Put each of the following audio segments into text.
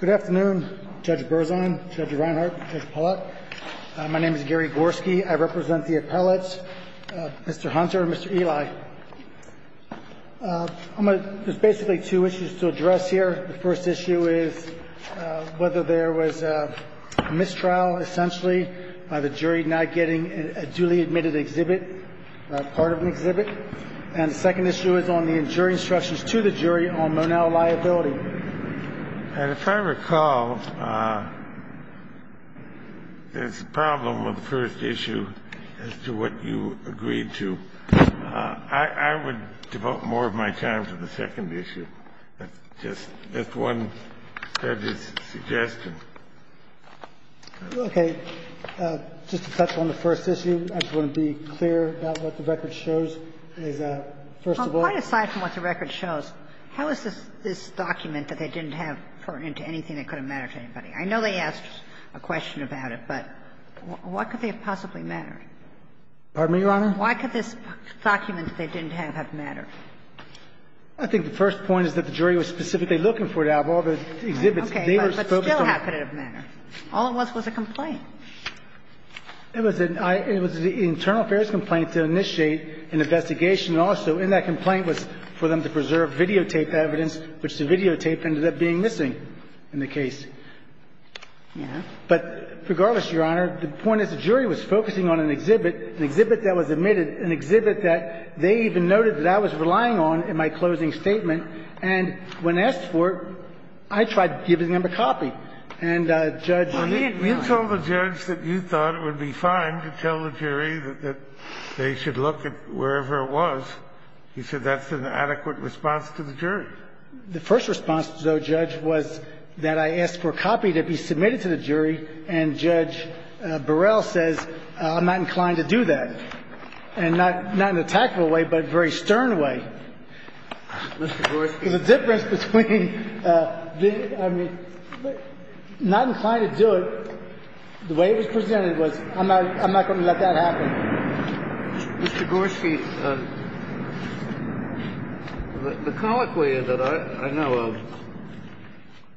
Good afternoon Judge Berzahn, Judge Reinhart, Judge Pollak. My name is Gary Gorski. I represent the appellates, Mr. Hunter and Mr. Eli. There's basically two issues to address here. The first issue is whether there was a mistrial essentially by the jury not getting a duly admitted exhibit, part of an exhibit. And the second issue is on the injuring instructions to the jury on Monell liability. And if I recall, there's a problem with the first issue as to what you agreed to. I would devote more of my time to the second issue. That's just one judge's suggestion. Okay. Just to touch on the first issue, I just want to be clear about what the record shows, is that, first of all Well, quite aside from what the record shows, how is this document that they didn't have pertinent to anything that could have mattered to anybody? I know they asked a question about it, but what could they have possibly mattered? Pardon me, Your Honor? Why could this document that they didn't have have mattered? I think the first point is that the jury was specifically looking for it out of all of the exhibits they were focused on. Okay. But still, how could it have mattered? All it was was a complaint. It was an internal affairs complaint to initiate an investigation. And also in that complaint was for them to preserve videotape evidence, which the videotape ended up being missing in the case. Yeah. But regardless, Your Honor, the point is the jury was focusing on an exhibit, an exhibit that was admitted, an exhibit that they even noted that I was relying on in my closing statement. And when asked for it, I tried giving them a copy. And Judge Reid relied on it. Well, you told the judge that you thought it would be fine to tell the jury that they should look at wherever it was. You said that's an adequate response to the jury. The first response, though, Judge, was that I asked for a copy to be submitted to the jury, and Judge Burrell says, I'm not inclined to do that. And not in an attackable way, but a very stern way. Mr. Gorski. The difference between, I mean, not inclined to do it, the way it was presented was, I'm not going to let that happen. Mr. Gorski, the colloquy that I know of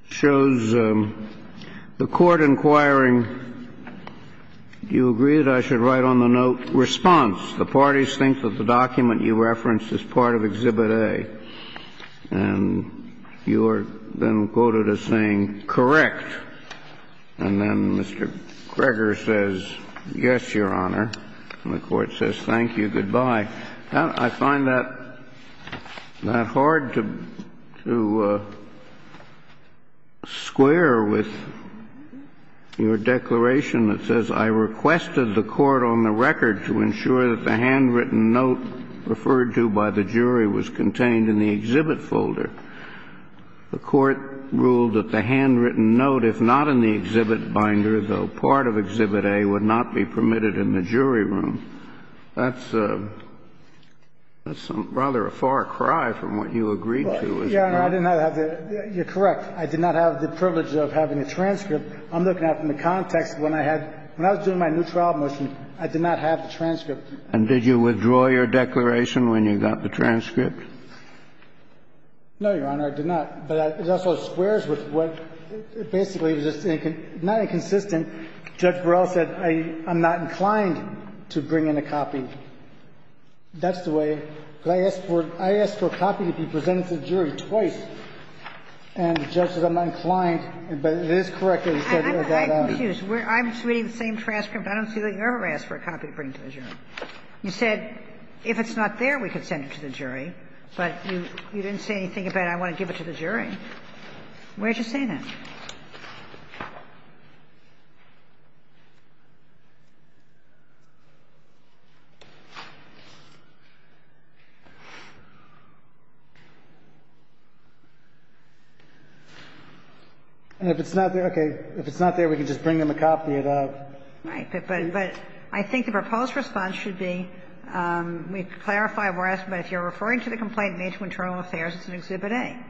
shows the Court inquiring, do you agree that I should write on the note, response, the parties think that the document you referenced is part of Exhibit A. And you are then quoted as saying, correct. And then Mr. Greger says, yes, Your Honor. And the Court says, thank you, goodbye. I find that hard to square with your declaration that says, I requested the Court on the record to ensure that the handwritten note referred to by the jury was contained in the exhibit folder. The Court ruled that the handwritten note, if not in the exhibit binder, though part of Exhibit A, would not be permitted in the jury room. That's rather a far cry from what you agreed to. Well, Your Honor, I did not have the – you're correct. I did not have the privilege of having the transcript. I'm looking at it from the context of when I had – when I was doing my new trial motion, I did not have the transcript. And did you withdraw your declaration when you got the transcript? No, Your Honor, I did not. But it also squares with what basically was just not inconsistent. Judge Barrell said, I'm not inclined to bring in a copy. That's the way. I asked for a copy to be presented to the jury twice. And the judge said, I'm not inclined. But it is correct that he said that. I'm quite confused. I'm reading the same transcript. I don't see that you ever asked for a copy to bring to the jury. You said, if it's not there, we could send it to the jury. But you didn't say anything about I want to give it to the jury. Where did you say that? And if it's not there – okay. If it's not there, we can just bring them a copy of that. Right. But I think the proposed response should be, we've clarified what we're asking, but if you're referring to the complaint made to Internal Affairs, it's in Exhibit 10.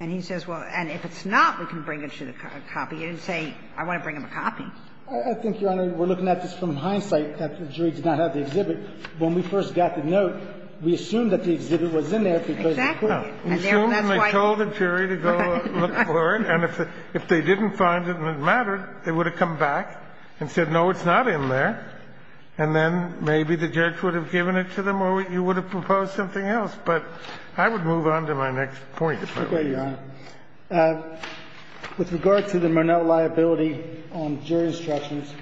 And he says, well, and if it's not, we can bring it to the copy. You didn't say, I want to bring them a copy. I think, Your Honor, we're looking at this from hindsight that the jury did not have the exhibit. When we first got the note, we assumed that the exhibit was in there because they couldn't have. Exactly. And therefore, that's why you – We assumed they told the jury to go look for it, and if they didn't find it and it mattered, they would have come back and said, no, it's not in there. And then maybe the judge would have given it to them or you would have proposed something else. But I would move on to my next point, if I may, Your Honor. Okay, Your Honor. With regard to the Murnell liability on jury instructions,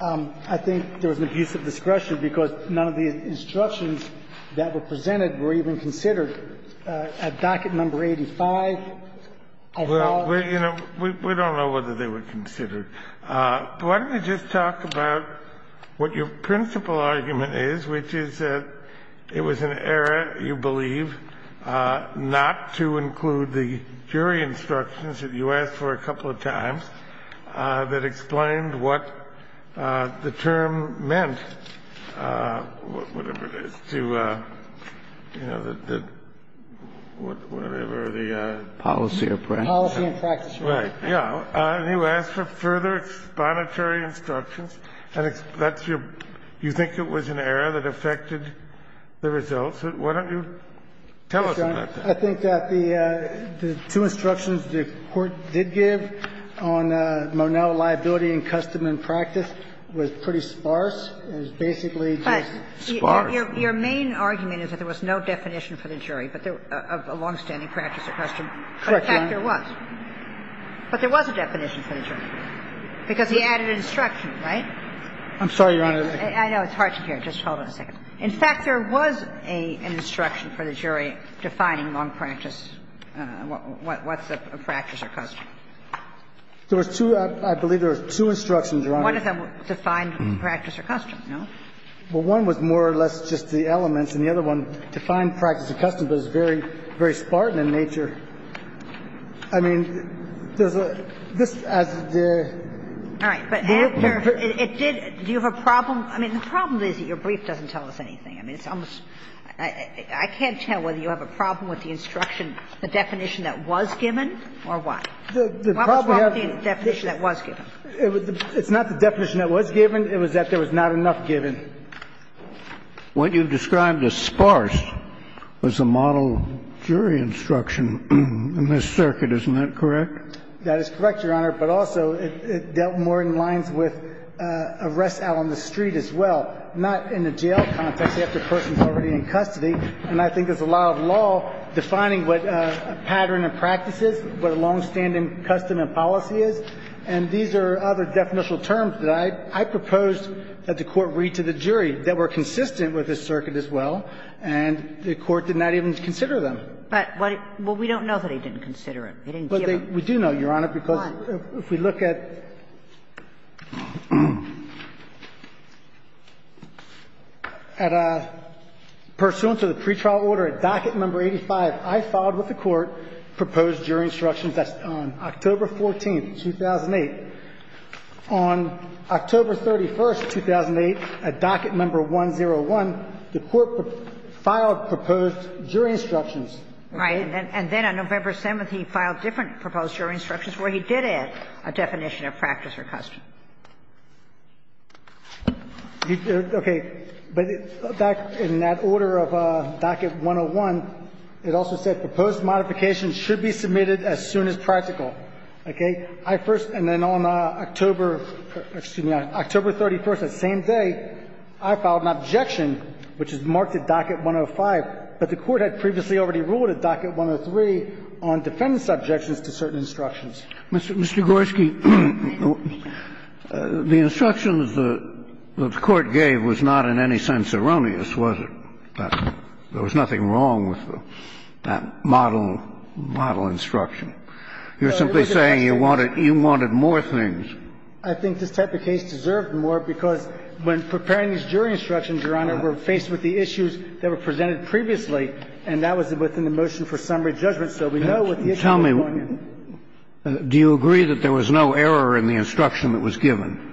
I think there was an abuse of discretion because none of the instructions that were presented were even considered at docket number 85. Well, you know, we don't know whether they were considered. Why don't we just talk about what your principal argument is, which is that it was an error, you believe, not to include the jury instructions that you asked for a couple of times that explained what the term meant, whatever it is, to, you know, the – whatever the – Policy or practice. Policy and practice. Right. Yeah. And you asked for further exponatory instructions, and that's your – you think it was an error that affected the results. Why don't you tell us about that? I think that the two instructions the Court did give on Murnell liability and custom and practice was pretty sparse. It was basically just sparse. But your main argument is that there was no definition for the jury of a longstanding practice or custom. Correct, Your Honor. In fact, there was. But there was a definition for the jury because he added instruction, right? I'm sorry, Your Honor. I know it's hard to hear. Just hold on a second. In fact, there was an instruction for the jury defining long practice. What's a practice or custom? There was two. I believe there was two instructions, Your Honor. One of them defined practice or custom, no? Well, one was more or less just the elements, and the other one defined practice or custom, but it's very, very spartan in nature. I mean, there's a – this, as the – All right. But it did – do you have a problem? I mean, the problem is that your brief doesn't tell us anything. I mean, it's almost – I can't tell whether you have a problem with the instruction, the definition that was given, or what? What was wrong with the definition that was given? It's not the definition that was given. It was that there was not enough given. What you described as sparse was the model jury instruction in this circuit. Isn't that correct? That is correct, Your Honor. But also, it dealt more in lines with arrests out on the street as well, not in a jail context after a person's already in custody. And I think there's a lot of law defining what a pattern of practice is, what a longstanding custom and policy is. And these are other definitional terms that I proposed that the Court read to the jury that were consistent with this circuit as well, and the Court did not even consider them. But what – well, we don't know that he didn't consider them. He didn't give them. But we do know, Your Honor, because if we look at – at pursuant to the pretrial order at docket number 85, I filed with the Court proposed jury instructions on October 14, 2008. On October 31, 2008, at docket number 101, the Court filed proposed jury instructions. Right. And then on November 7th, he filed different proposed jury instructions where he did add a definition of practice or custom. Okay. But in that order of docket 101, it also said proposed modifications should be submitted as soon as practical. Okay. I first – and then on October – excuse me, on October 31st, that same day, I filed an objection, which is marked at docket 105. But the Court had previously already ruled at docket 103 on defendant's objections to certain instructions. Mr. Gorski, the instructions the Court gave was not in any sense erroneous, was it? There was nothing wrong with that model instruction. You're simply saying you wanted more things. I think this type of case deserved more because when preparing these jury instructions, Your Honor, we're faced with the issues that were presented previously, and that was within the motion for summary judgment. So we know what the issues were going to be. Tell me, do you agree that there was no error in the instruction that was given?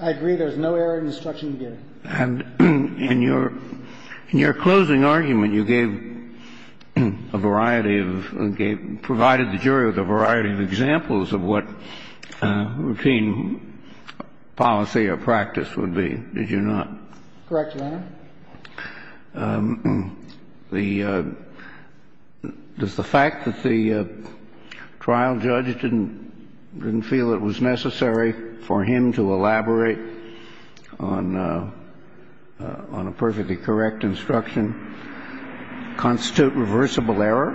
I agree there was no error in the instruction given. And in your closing argument, you gave a variety of – provided the jury with a variety of examples of what routine policy or practice would be, did you not? Correct, Your Honor. The – does the fact that the trial judge didn't feel it was necessary for him to elaborate on a perfectly correct instruction constitute reversible error?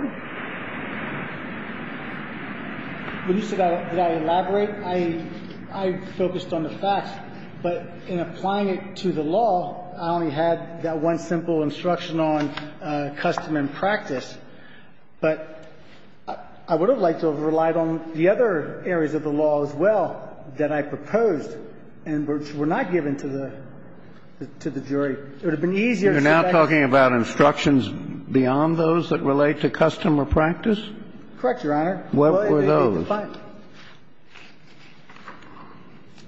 When you said I didn't elaborate, I focused on the facts. But in applying it to the law, I only had that one simple instruction on custom and practice. But I would have liked to have relied on the other areas of the law as well that I proposed and which were not given to the jury. It would have been easier to say that the – You're now talking about instructions beyond those that relate to custom or practice? Correct, Your Honor. What were those?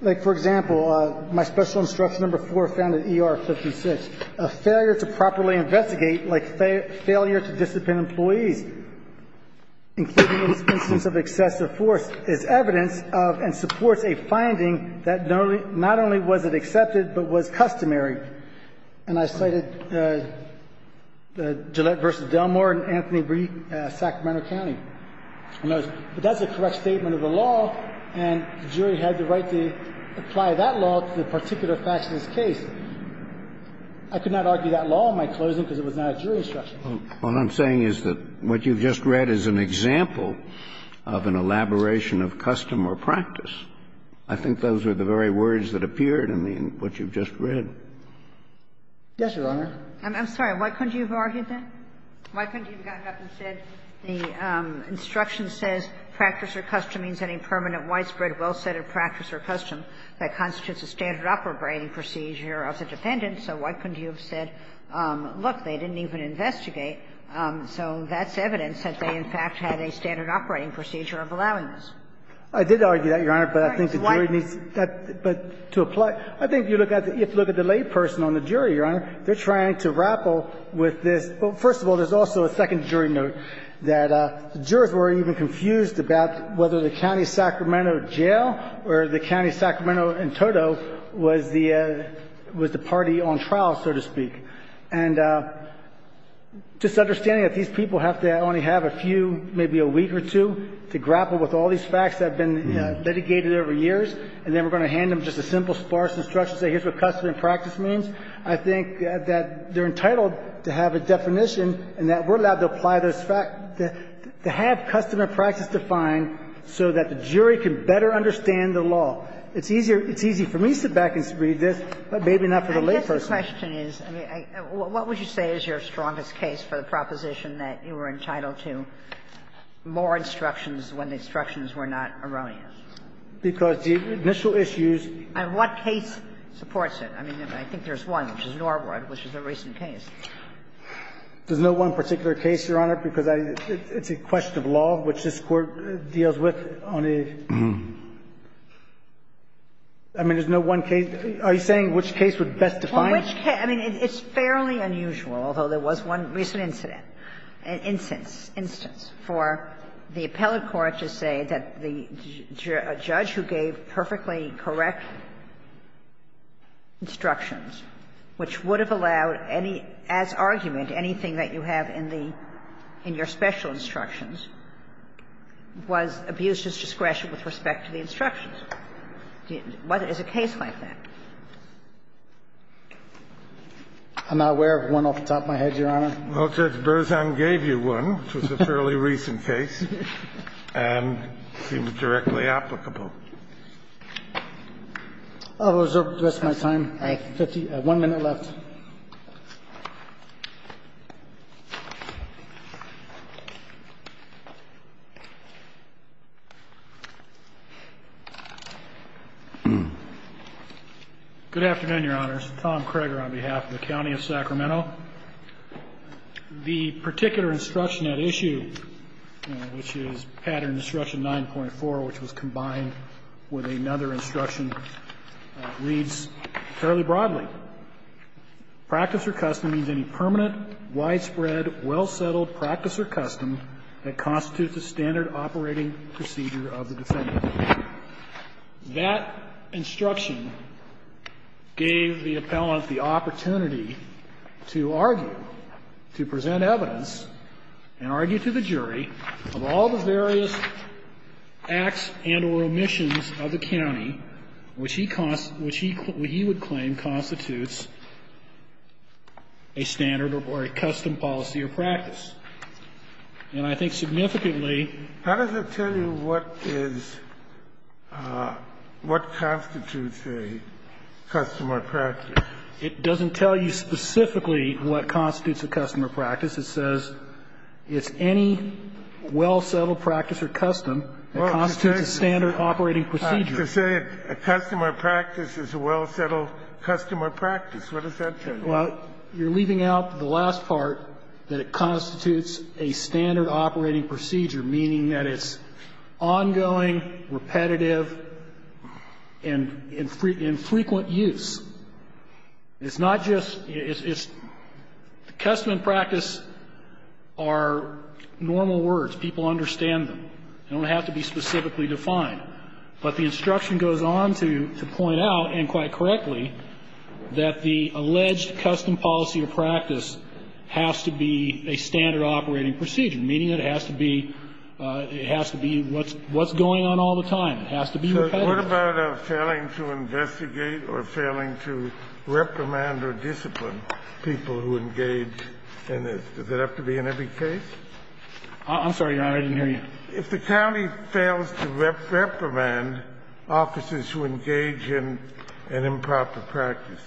Like, for example, my Special Instruction No. 4 found in ER 56, a failure to properly investigate, like failure to discipline employees, including in the instance of excessive force, is evidence of and supports a finding that not only was it accepted, but was customary. And I cited Gillette v. Delmore and Anthony Reed, Sacramento County. But that's a correct statement of the law, and the jury had the right to apply that law to the particular facts of this case. I could not argue that law in my closing because it was not a jury instruction. What I'm saying is that what you've just read is an example of an elaboration of custom or practice. I think those are the very words that appeared in the – in what you've just read. Yes, Your Honor. I'm sorry. Why couldn't you have argued that? Why couldn't you have gotten up and said, the instruction says, practice or custom means any permanent, widespread, well-setted practice or custom that constitutes a standard operating procedure of the defendant. So why couldn't you have said, look, they didn't even investigate. So that's evidence that they, in fact, had a standard operating procedure of allowing this. I did argue that, Your Honor, but I think the jury needs that to apply. I think you have to look at the layperson on the jury, Your Honor. They're trying to grapple with this. Well, first of all, there's also a second jury note that the jurors were even confused about whether the county Sacramento jail or the county Sacramento in total was the – was the party on trial, so to speak. And just understanding that these people have to only have a few, maybe a week or two, to grapple with all these facts that have been litigated over years, and then we're going to hand them just a simple, sparse instruction, say, here's what custom and practice means, I think that they're entitled to have a definition and that we're allowed to apply those facts, to have custom and practice defined so that the jury can better understand the law. It's easier for me to sit back and read this, but maybe not for the layperson. I guess the question is, I mean, what would you say is your strongest case for the proposition that you were entitled to more instructions when the instructions were not erroneous? Because the initial issues – And what case supports it? I mean, I think there's one, which is Norwood, which is a recent case. There's no one particular case, Your Honor, because it's a question of law, which this Court deals with on a – I mean, there's no one case. Are you saying which case would best define it? Well, which case? I mean, it's fairly unusual, although there was one recent incident, instance, instance, for the appellate court to say that the judge who gave perfectly correct instructions, which would have allowed any – as argument, anything that you have in the – in your special instructions, was abused as discretion with respect to the instructions. Is a case like that? I'm not aware of one off the top of my head, Your Honor. Well, Judge Berzan gave you one, which was a fairly recent case, and seemed directly applicable. I will reserve the rest of my time. I have one minute left. Good afternoon, Your Honors. Tom Kroeger on behalf of the County of Sacramento. The particular instruction at issue, which is Pattern Instruction 9.4, which was combined with another instruction, reads fairly broadly. Practice or custom means any permanent, widespread, well-settled practice or custom that constitutes the standard operating procedure of the defendant. That instruction gave the appellant the opportunity to argue, to present evidence and argue to the jury of all the various acts and or omissions of the county which he would claim constitutes a standard or a custom policy or practice. And I think significantly – How does it tell you what is – what constitutes a customer practice? It doesn't tell you specifically what constitutes a customer practice. It says it's any well-settled practice or custom that constitutes a standard operating procedure. To say a customer practice is a well-settled customer practice, what does that say? Well, you're leaving out the last part, that it constitutes a standard operating procedure, meaning that it's ongoing, repetitive, and in frequent use. It's not just – it's – the custom and practice are normal words. People understand them. They don't have to be specifically defined. But the instruction goes on to point out, and quite correctly, that the alleged custom policy or practice has to be a standard operating procedure, meaning it has to be – it has to be what's going on all the time. It has to be repetitive. What about failing to investigate or failing to reprimand or discipline people who engage in this? Does it have to be in every case? I'm sorry, Your Honor. I didn't hear you. If the county fails to reprimand officers who engage in an improper practice,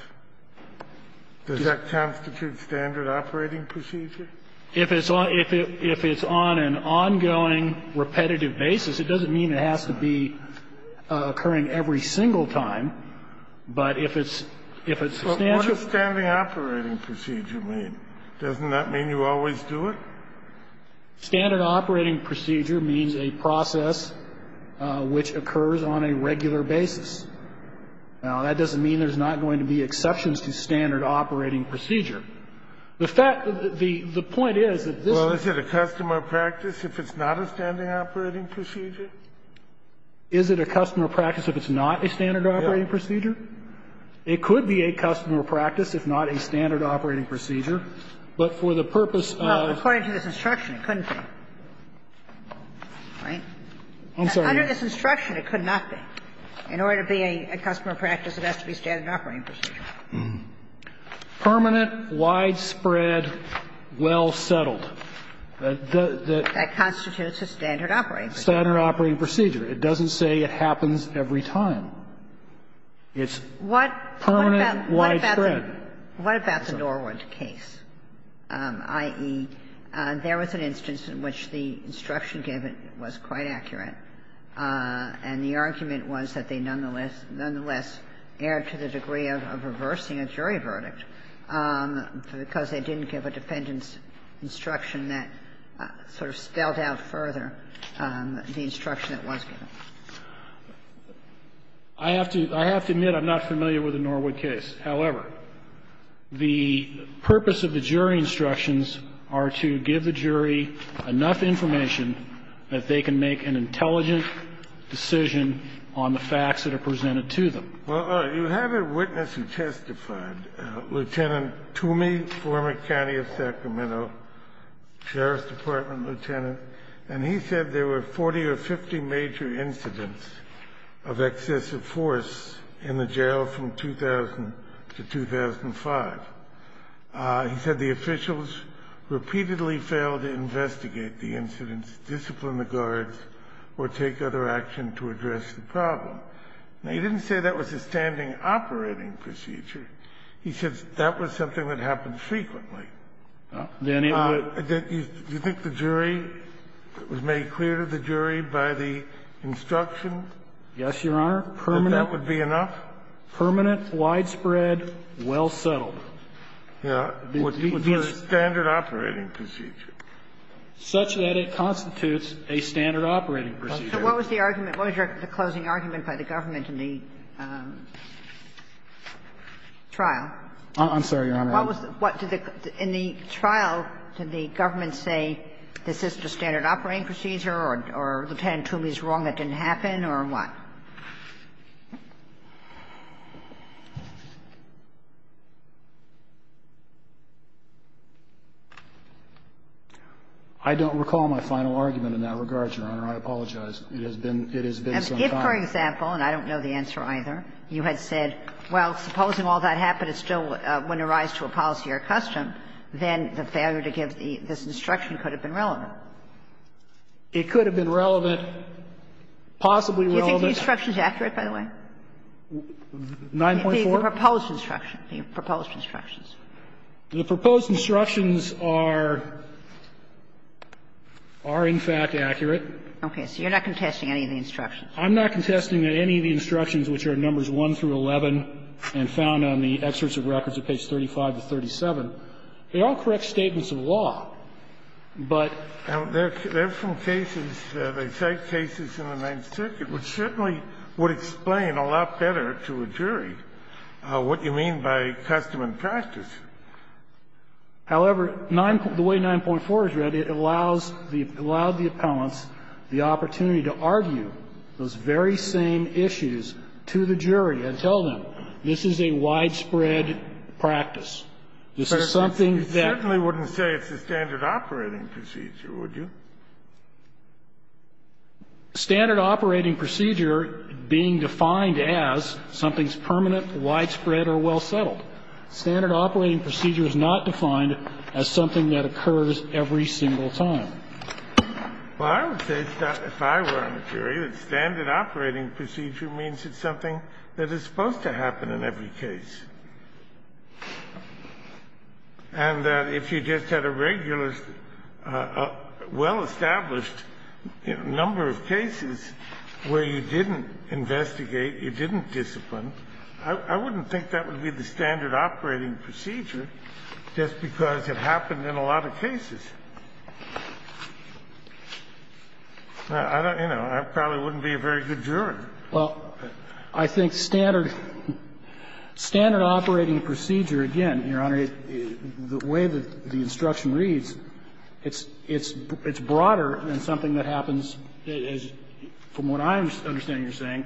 does that constitute standard operating procedure? If it's on an ongoing, repetitive basis, it doesn't mean it has to be a standard operating procedure, meaning it's occurring every single time, but if it's a standard What does standard operating procedure mean? Doesn't that mean you always do it? Standard operating procedure means a process which occurs on a regular basis. Now, that doesn't mean there's not going to be exceptions to standard operating procedure. The fact – the point is that this Well, is it a custom or practice if it's not a standard operating procedure? Is it a custom or practice if it's not a standard operating procedure? It could be a custom or practice if not a standard operating procedure, but for the purpose of Well, according to this instruction, it couldn't be. I'm sorry, Your Honor. Under this instruction, it could not be. In order to be a custom or practice, it has to be standard operating procedure. Permanent, widespread, well settled. That constitutes a standard operating procedure. Standard operating procedure. It doesn't say it happens every time. It's permanent, widespread. What about the Norwood case, i.e., there was an instance in which the instruction given was quite accurate, and the argument was that they nonetheless erred to the degree of reversing a jury verdict because they didn't give a defendant's case any further than the instruction that was given. I have to admit I'm not familiar with the Norwood case. However, the purpose of the jury instructions are to give the jury enough information that they can make an intelligent decision on the facts that are presented to them. Well, you have a witness who testified, Lieutenant Toomey, former county of Sacramento, sheriff's department lieutenant, and he said there were 40 or 50 major incidents of excessive force in the jail from 2000 to 2005. He said the officials repeatedly failed to investigate the incidents, discipline the guards, or take other action to address the problem. Now, he didn't say that was a standing operating procedure. He said that was something that happened frequently. Do you think the jury was made clear to the jury by the instruction? Yes, Your Honor, permanent. That that would be enough? Permanent, widespread, well-settled. Yeah. It would be a standard operating procedure. Such that it constitutes a standard operating procedure. So what was the argument? What was the closing argument by the government in the trial? I'm sorry, Your Honor. In the trial, did the government say this is the standard operating procedure or Lieutenant Toomey is wrong, it didn't happen, or what? I don't recall my final argument in that regard, Your Honor. I apologize. It has been some time. If, for example, and I don't know the answer either, you had said, well, supposing all that happened, it still wouldn't arise to a policy or a custom, then the failure to give this instruction could have been relevant. It could have been relevant, possibly relevant. Do you think the instruction is accurate, by the way? 9.4? The proposed instruction, the proposed instructions. The proposed instructions are in fact accurate. Okay. So you're not contesting any of the instructions? I'm not contesting that any of the instructions, which are numbers 1 through 11 and found on the excerpts of records at page 35 to 37, they all correct statements of the law. But they're from cases, they cite cases in the Ninth Circuit, which certainly would explain a lot better to a jury what you mean by custom and practice. However, the way 9.4 is read, it allows the appellants the opportunity to argue those very same issues to the jury and tell them, this is a widespread practice. This is something that You certainly wouldn't say it's a standard operating procedure, would you? Standard operating procedure being defined as something's permanent, widespread, or well settled. Standard operating procedure is not defined as something that occurs every single time. Well, I would say, if I were a jury, that standard operating procedure means it's something that is supposed to happen in every case. And that if you just had a regular, well-established number of cases where you didn't investigate, you didn't discipline, I wouldn't think that would be the standard operating procedure just because it happened in a lot of cases. I don't, you know, I probably wouldn't be a very good juror. Well, I think standard operating procedure, again, Your Honor, the way that the instruction reads, it's broader than something that happens, from what I understand you're saying,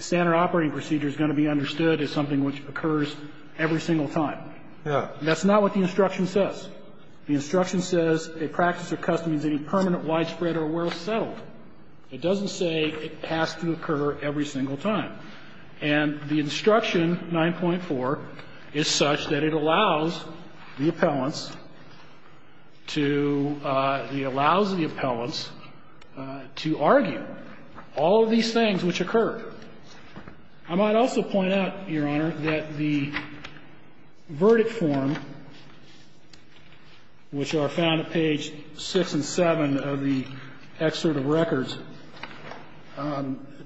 standard operating procedure is going to be understood as something which occurs every single time. Yeah. That's not what the instruction says. The instruction says a practice or custom is any permanent, widespread, or well settled. It doesn't say it has to occur every single time. And the instruction 9.4 is such that it allows the appellants to argue all of these things which occur. I might also point out, Your Honor, that the verdict form, which are found at page 6 and 7 of the excerpt of records,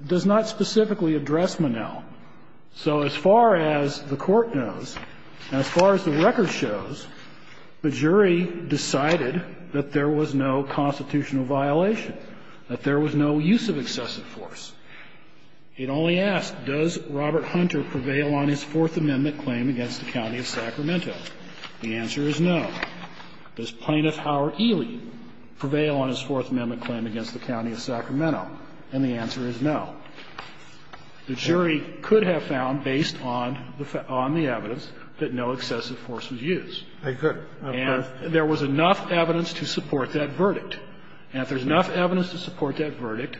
does not specifically address Monell. So as far as the Court knows, as far as the record shows, the jury decided that there was no constitutional violation, that there was no use of excessive force. It only asks, does Robert Hunter prevail on his Fourth Amendment claim against the county of Sacramento? The answer is no. Does Plaintiff Howard Ely prevail on his Fourth Amendment claim against the county of Sacramento? And the answer is no. The jury could have found, based on the evidence, that no excessive force was used. They could. And there was enough evidence to support that verdict. And if there's enough evidence to support that verdict,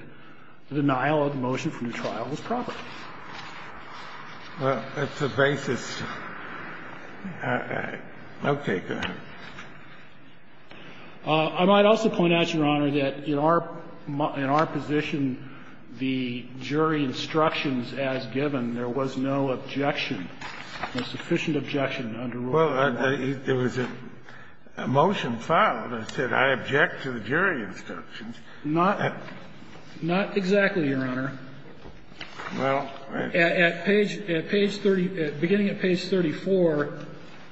the denial of the motion from the trial was proper. Well, that's the basis. Okay. Go ahead. I might also point out, Your Honor, that in our position, the jury instructions as given, there was no objection, no sufficient objection under Rule 99. Well, there was a motion filed that said, I object to the jury instructions. Not exactly, Your Honor. At page 30, beginning at page 34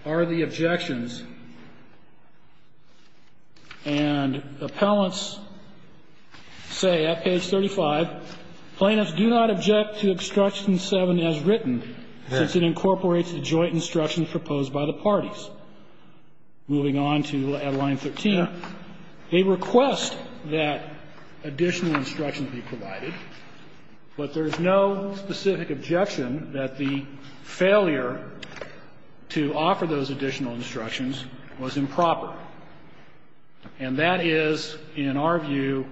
are the objections. And appellants say at page 35, Plaintiffs do not object to obstruction 7 as written, since it incorporates the joint instructions proposed by the parties. Moving on to line 13, they request that additional instruction be provided, but there's no specific objection that the failure to offer those additional instructions was improper. And that is, in our view,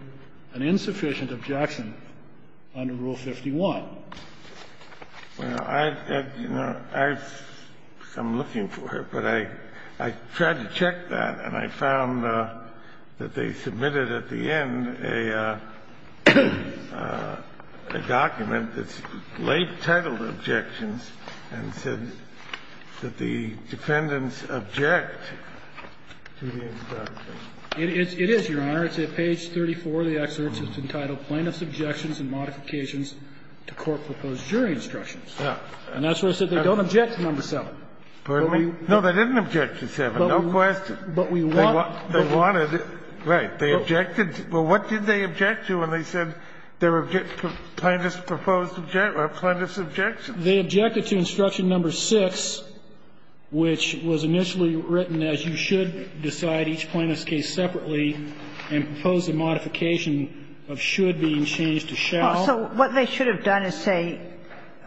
an insufficient objection under Rule 51. Well, I've, you know, I've come looking for it, but I tried to check that, and I found that they submitted at the end a document that's late-titled objections and said that the defendants object to the instructions. It is, Your Honor. It's at page 34 of the excerpt. It's entitled Plaintiffs' Objections and Modifications to Court-Proposed Jury Instructions. And that's where it said they don't object to number 7. No, they didn't object to 7, no question. But we want to. They wanted to. Right. They objected. Well, what did they object to when they said there were Plaintiffs' proposed objections, or Plaintiffs' objections? They objected to instruction number 6, which was initially written as you should decide each Plaintiffs' case separately and propose a modification of should being changed to shall. Well, so what they should have done is say,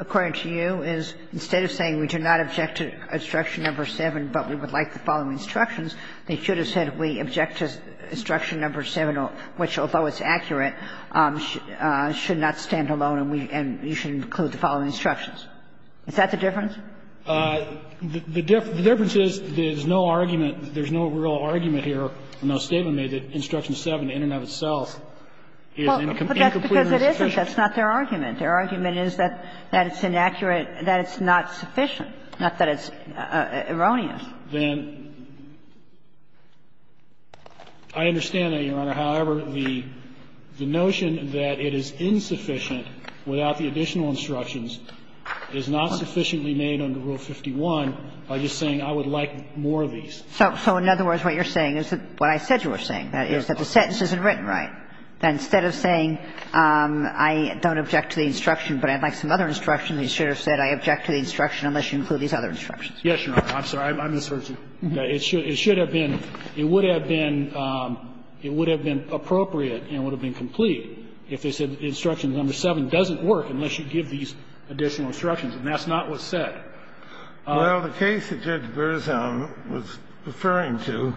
according to you, is instead of saying we do not object to instruction number 7, but we would like the following instructions, they should have said we object to instruction number 7, which, although it's accurate, should not stand alone and we should include the following instructions. Is that the difference? The difference is there's no argument, there's no real argument here, no statement made that instruction 7 in and of itself is incompletely sufficient. Well, but that's because it isn't. That's not their argument. Their argument is that it's inaccurate, that it's not sufficient, not that it's erroneous. Then I understand that, Your Honor. However, the notion that it is insufficient without the additional instructions is not sufficiently made under Rule 51 by just saying I would like more of these. So in other words, what you're saying is what I said you were saying, that is that the sentence isn't written right. That instead of saying I don't object to the instruction, but I'd like some other instruction, you should have said I object to the instruction unless you include these other instructions. Yes, Your Honor. I'm sorry. I misheard you. It should have been, it would have been, it would have been appropriate and would have been appropriate to say that the instruction number 7 doesn't work unless you give these additional instructions. And that's not what's said. Well, the case that Judge Berzown was referring to,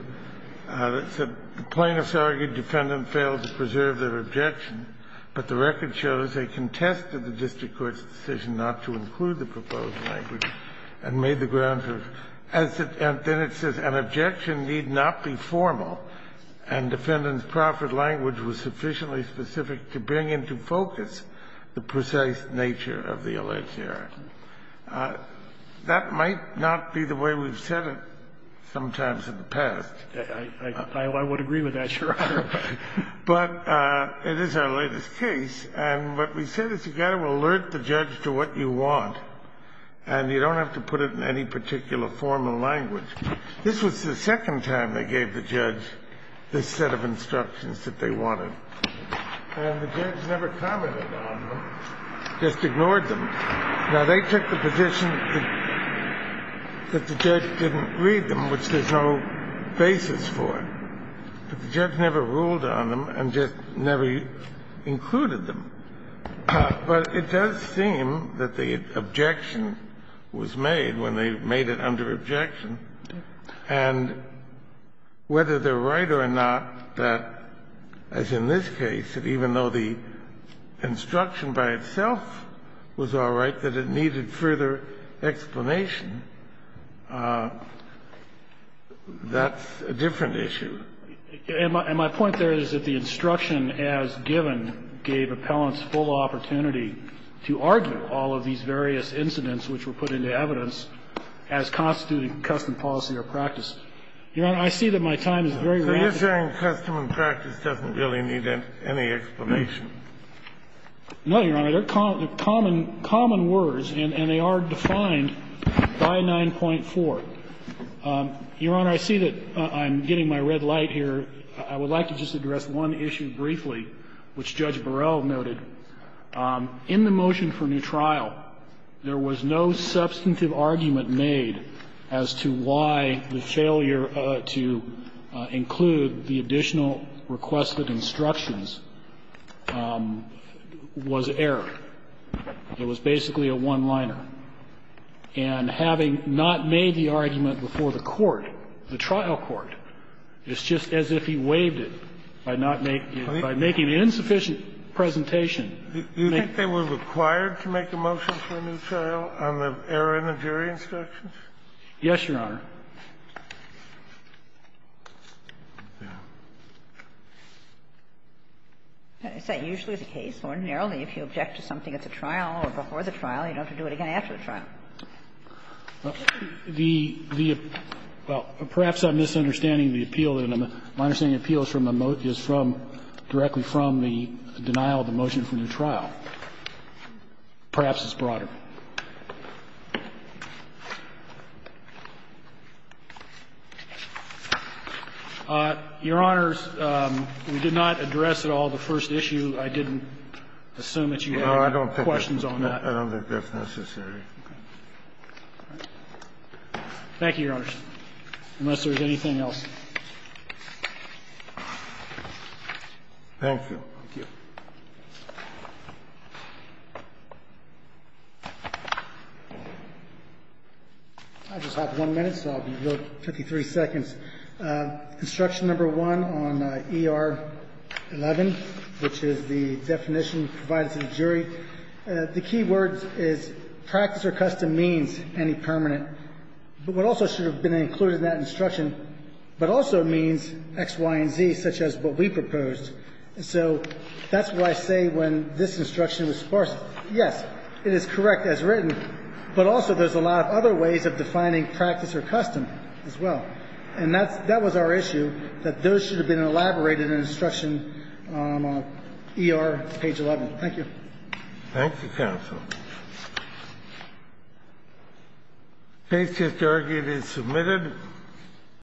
the plaintiffs argued the defendant failed to preserve their objection, but the record shows they contested the district court's decision not to include the proposed language and made the grounds of as it and then it says an objection need not be formal and defendant's proper language was sufficiently specific to bring into focus the precise nature of the alleged error. That might not be the way we've said it sometimes in the past. I would agree with that, Your Honor. But it is our latest case, and what we said is you've got to alert the judge to what you want, and you don't have to put it in any particular formal language. This was the second time they gave the judge this set of instructions that they wanted, and the judge never commented on them, just ignored them. Now, they took the position that the judge didn't read them, which there's no basis for, but the judge never ruled on them and just never included them. But it does seem that the objection was made when they made it under objection. And whether they're right or not, that, as in this case, that even though the instruction by itself was all right, that it needed further explanation, that's a different issue. And my point there is that the instruction as given gave appellants full opportunity to argue all of these various incidents which were put into evidence as constituting custom policy or practice. Your Honor, I see that my time is very limited. So you're saying custom and practice doesn't really need any explanation? No, Your Honor. They're common words, and they are defined by 9.4. Your Honor, I see that I'm getting my red light here. I would like to just address one issue briefly, which Judge Burrell noted. In the motion for new trial, there was no substantive argument made as to why the failure to include the additional requested instructions was error. It was basically a one-liner. And having not made the argument before the court, the trial court, it's just as if he waived it by not making the insufficient presentation. Do you think they were required to make a motion for a new trial on the error in the jury instructions? Yes, Your Honor. Is that usually the case? Ordinarily, if you object to something at the trial or before the trial, you don't have to do it again after the trial. Well, perhaps I'm misunderstanding the appeal. My understanding of the appeal is directly from the denial of the motion for new trial. Perhaps it's broader. Your Honors, we did not address at all the first issue. I didn't assume that you had questions on that. I don't think that's necessary. Thank you, Your Honors. Unless there's anything else. Thank you. I just have one minute, so I'll be good 53 seconds. Construction number one on ER11, which is the definition provided to the jury, the key word is practice or custom means any permanent. But what also should have been included in that instruction, but also means X, Y, and Z, such as what we proposed. So that's why I say when this instruction was sparse, yes, it is correct as written, but also there's a lot of other ways of defining practice or custom as well. And that's that was our issue, that those should have been elaborated in instruction on ER page 11. Thank you. Thank you, Counsel. Case just argued is submitted.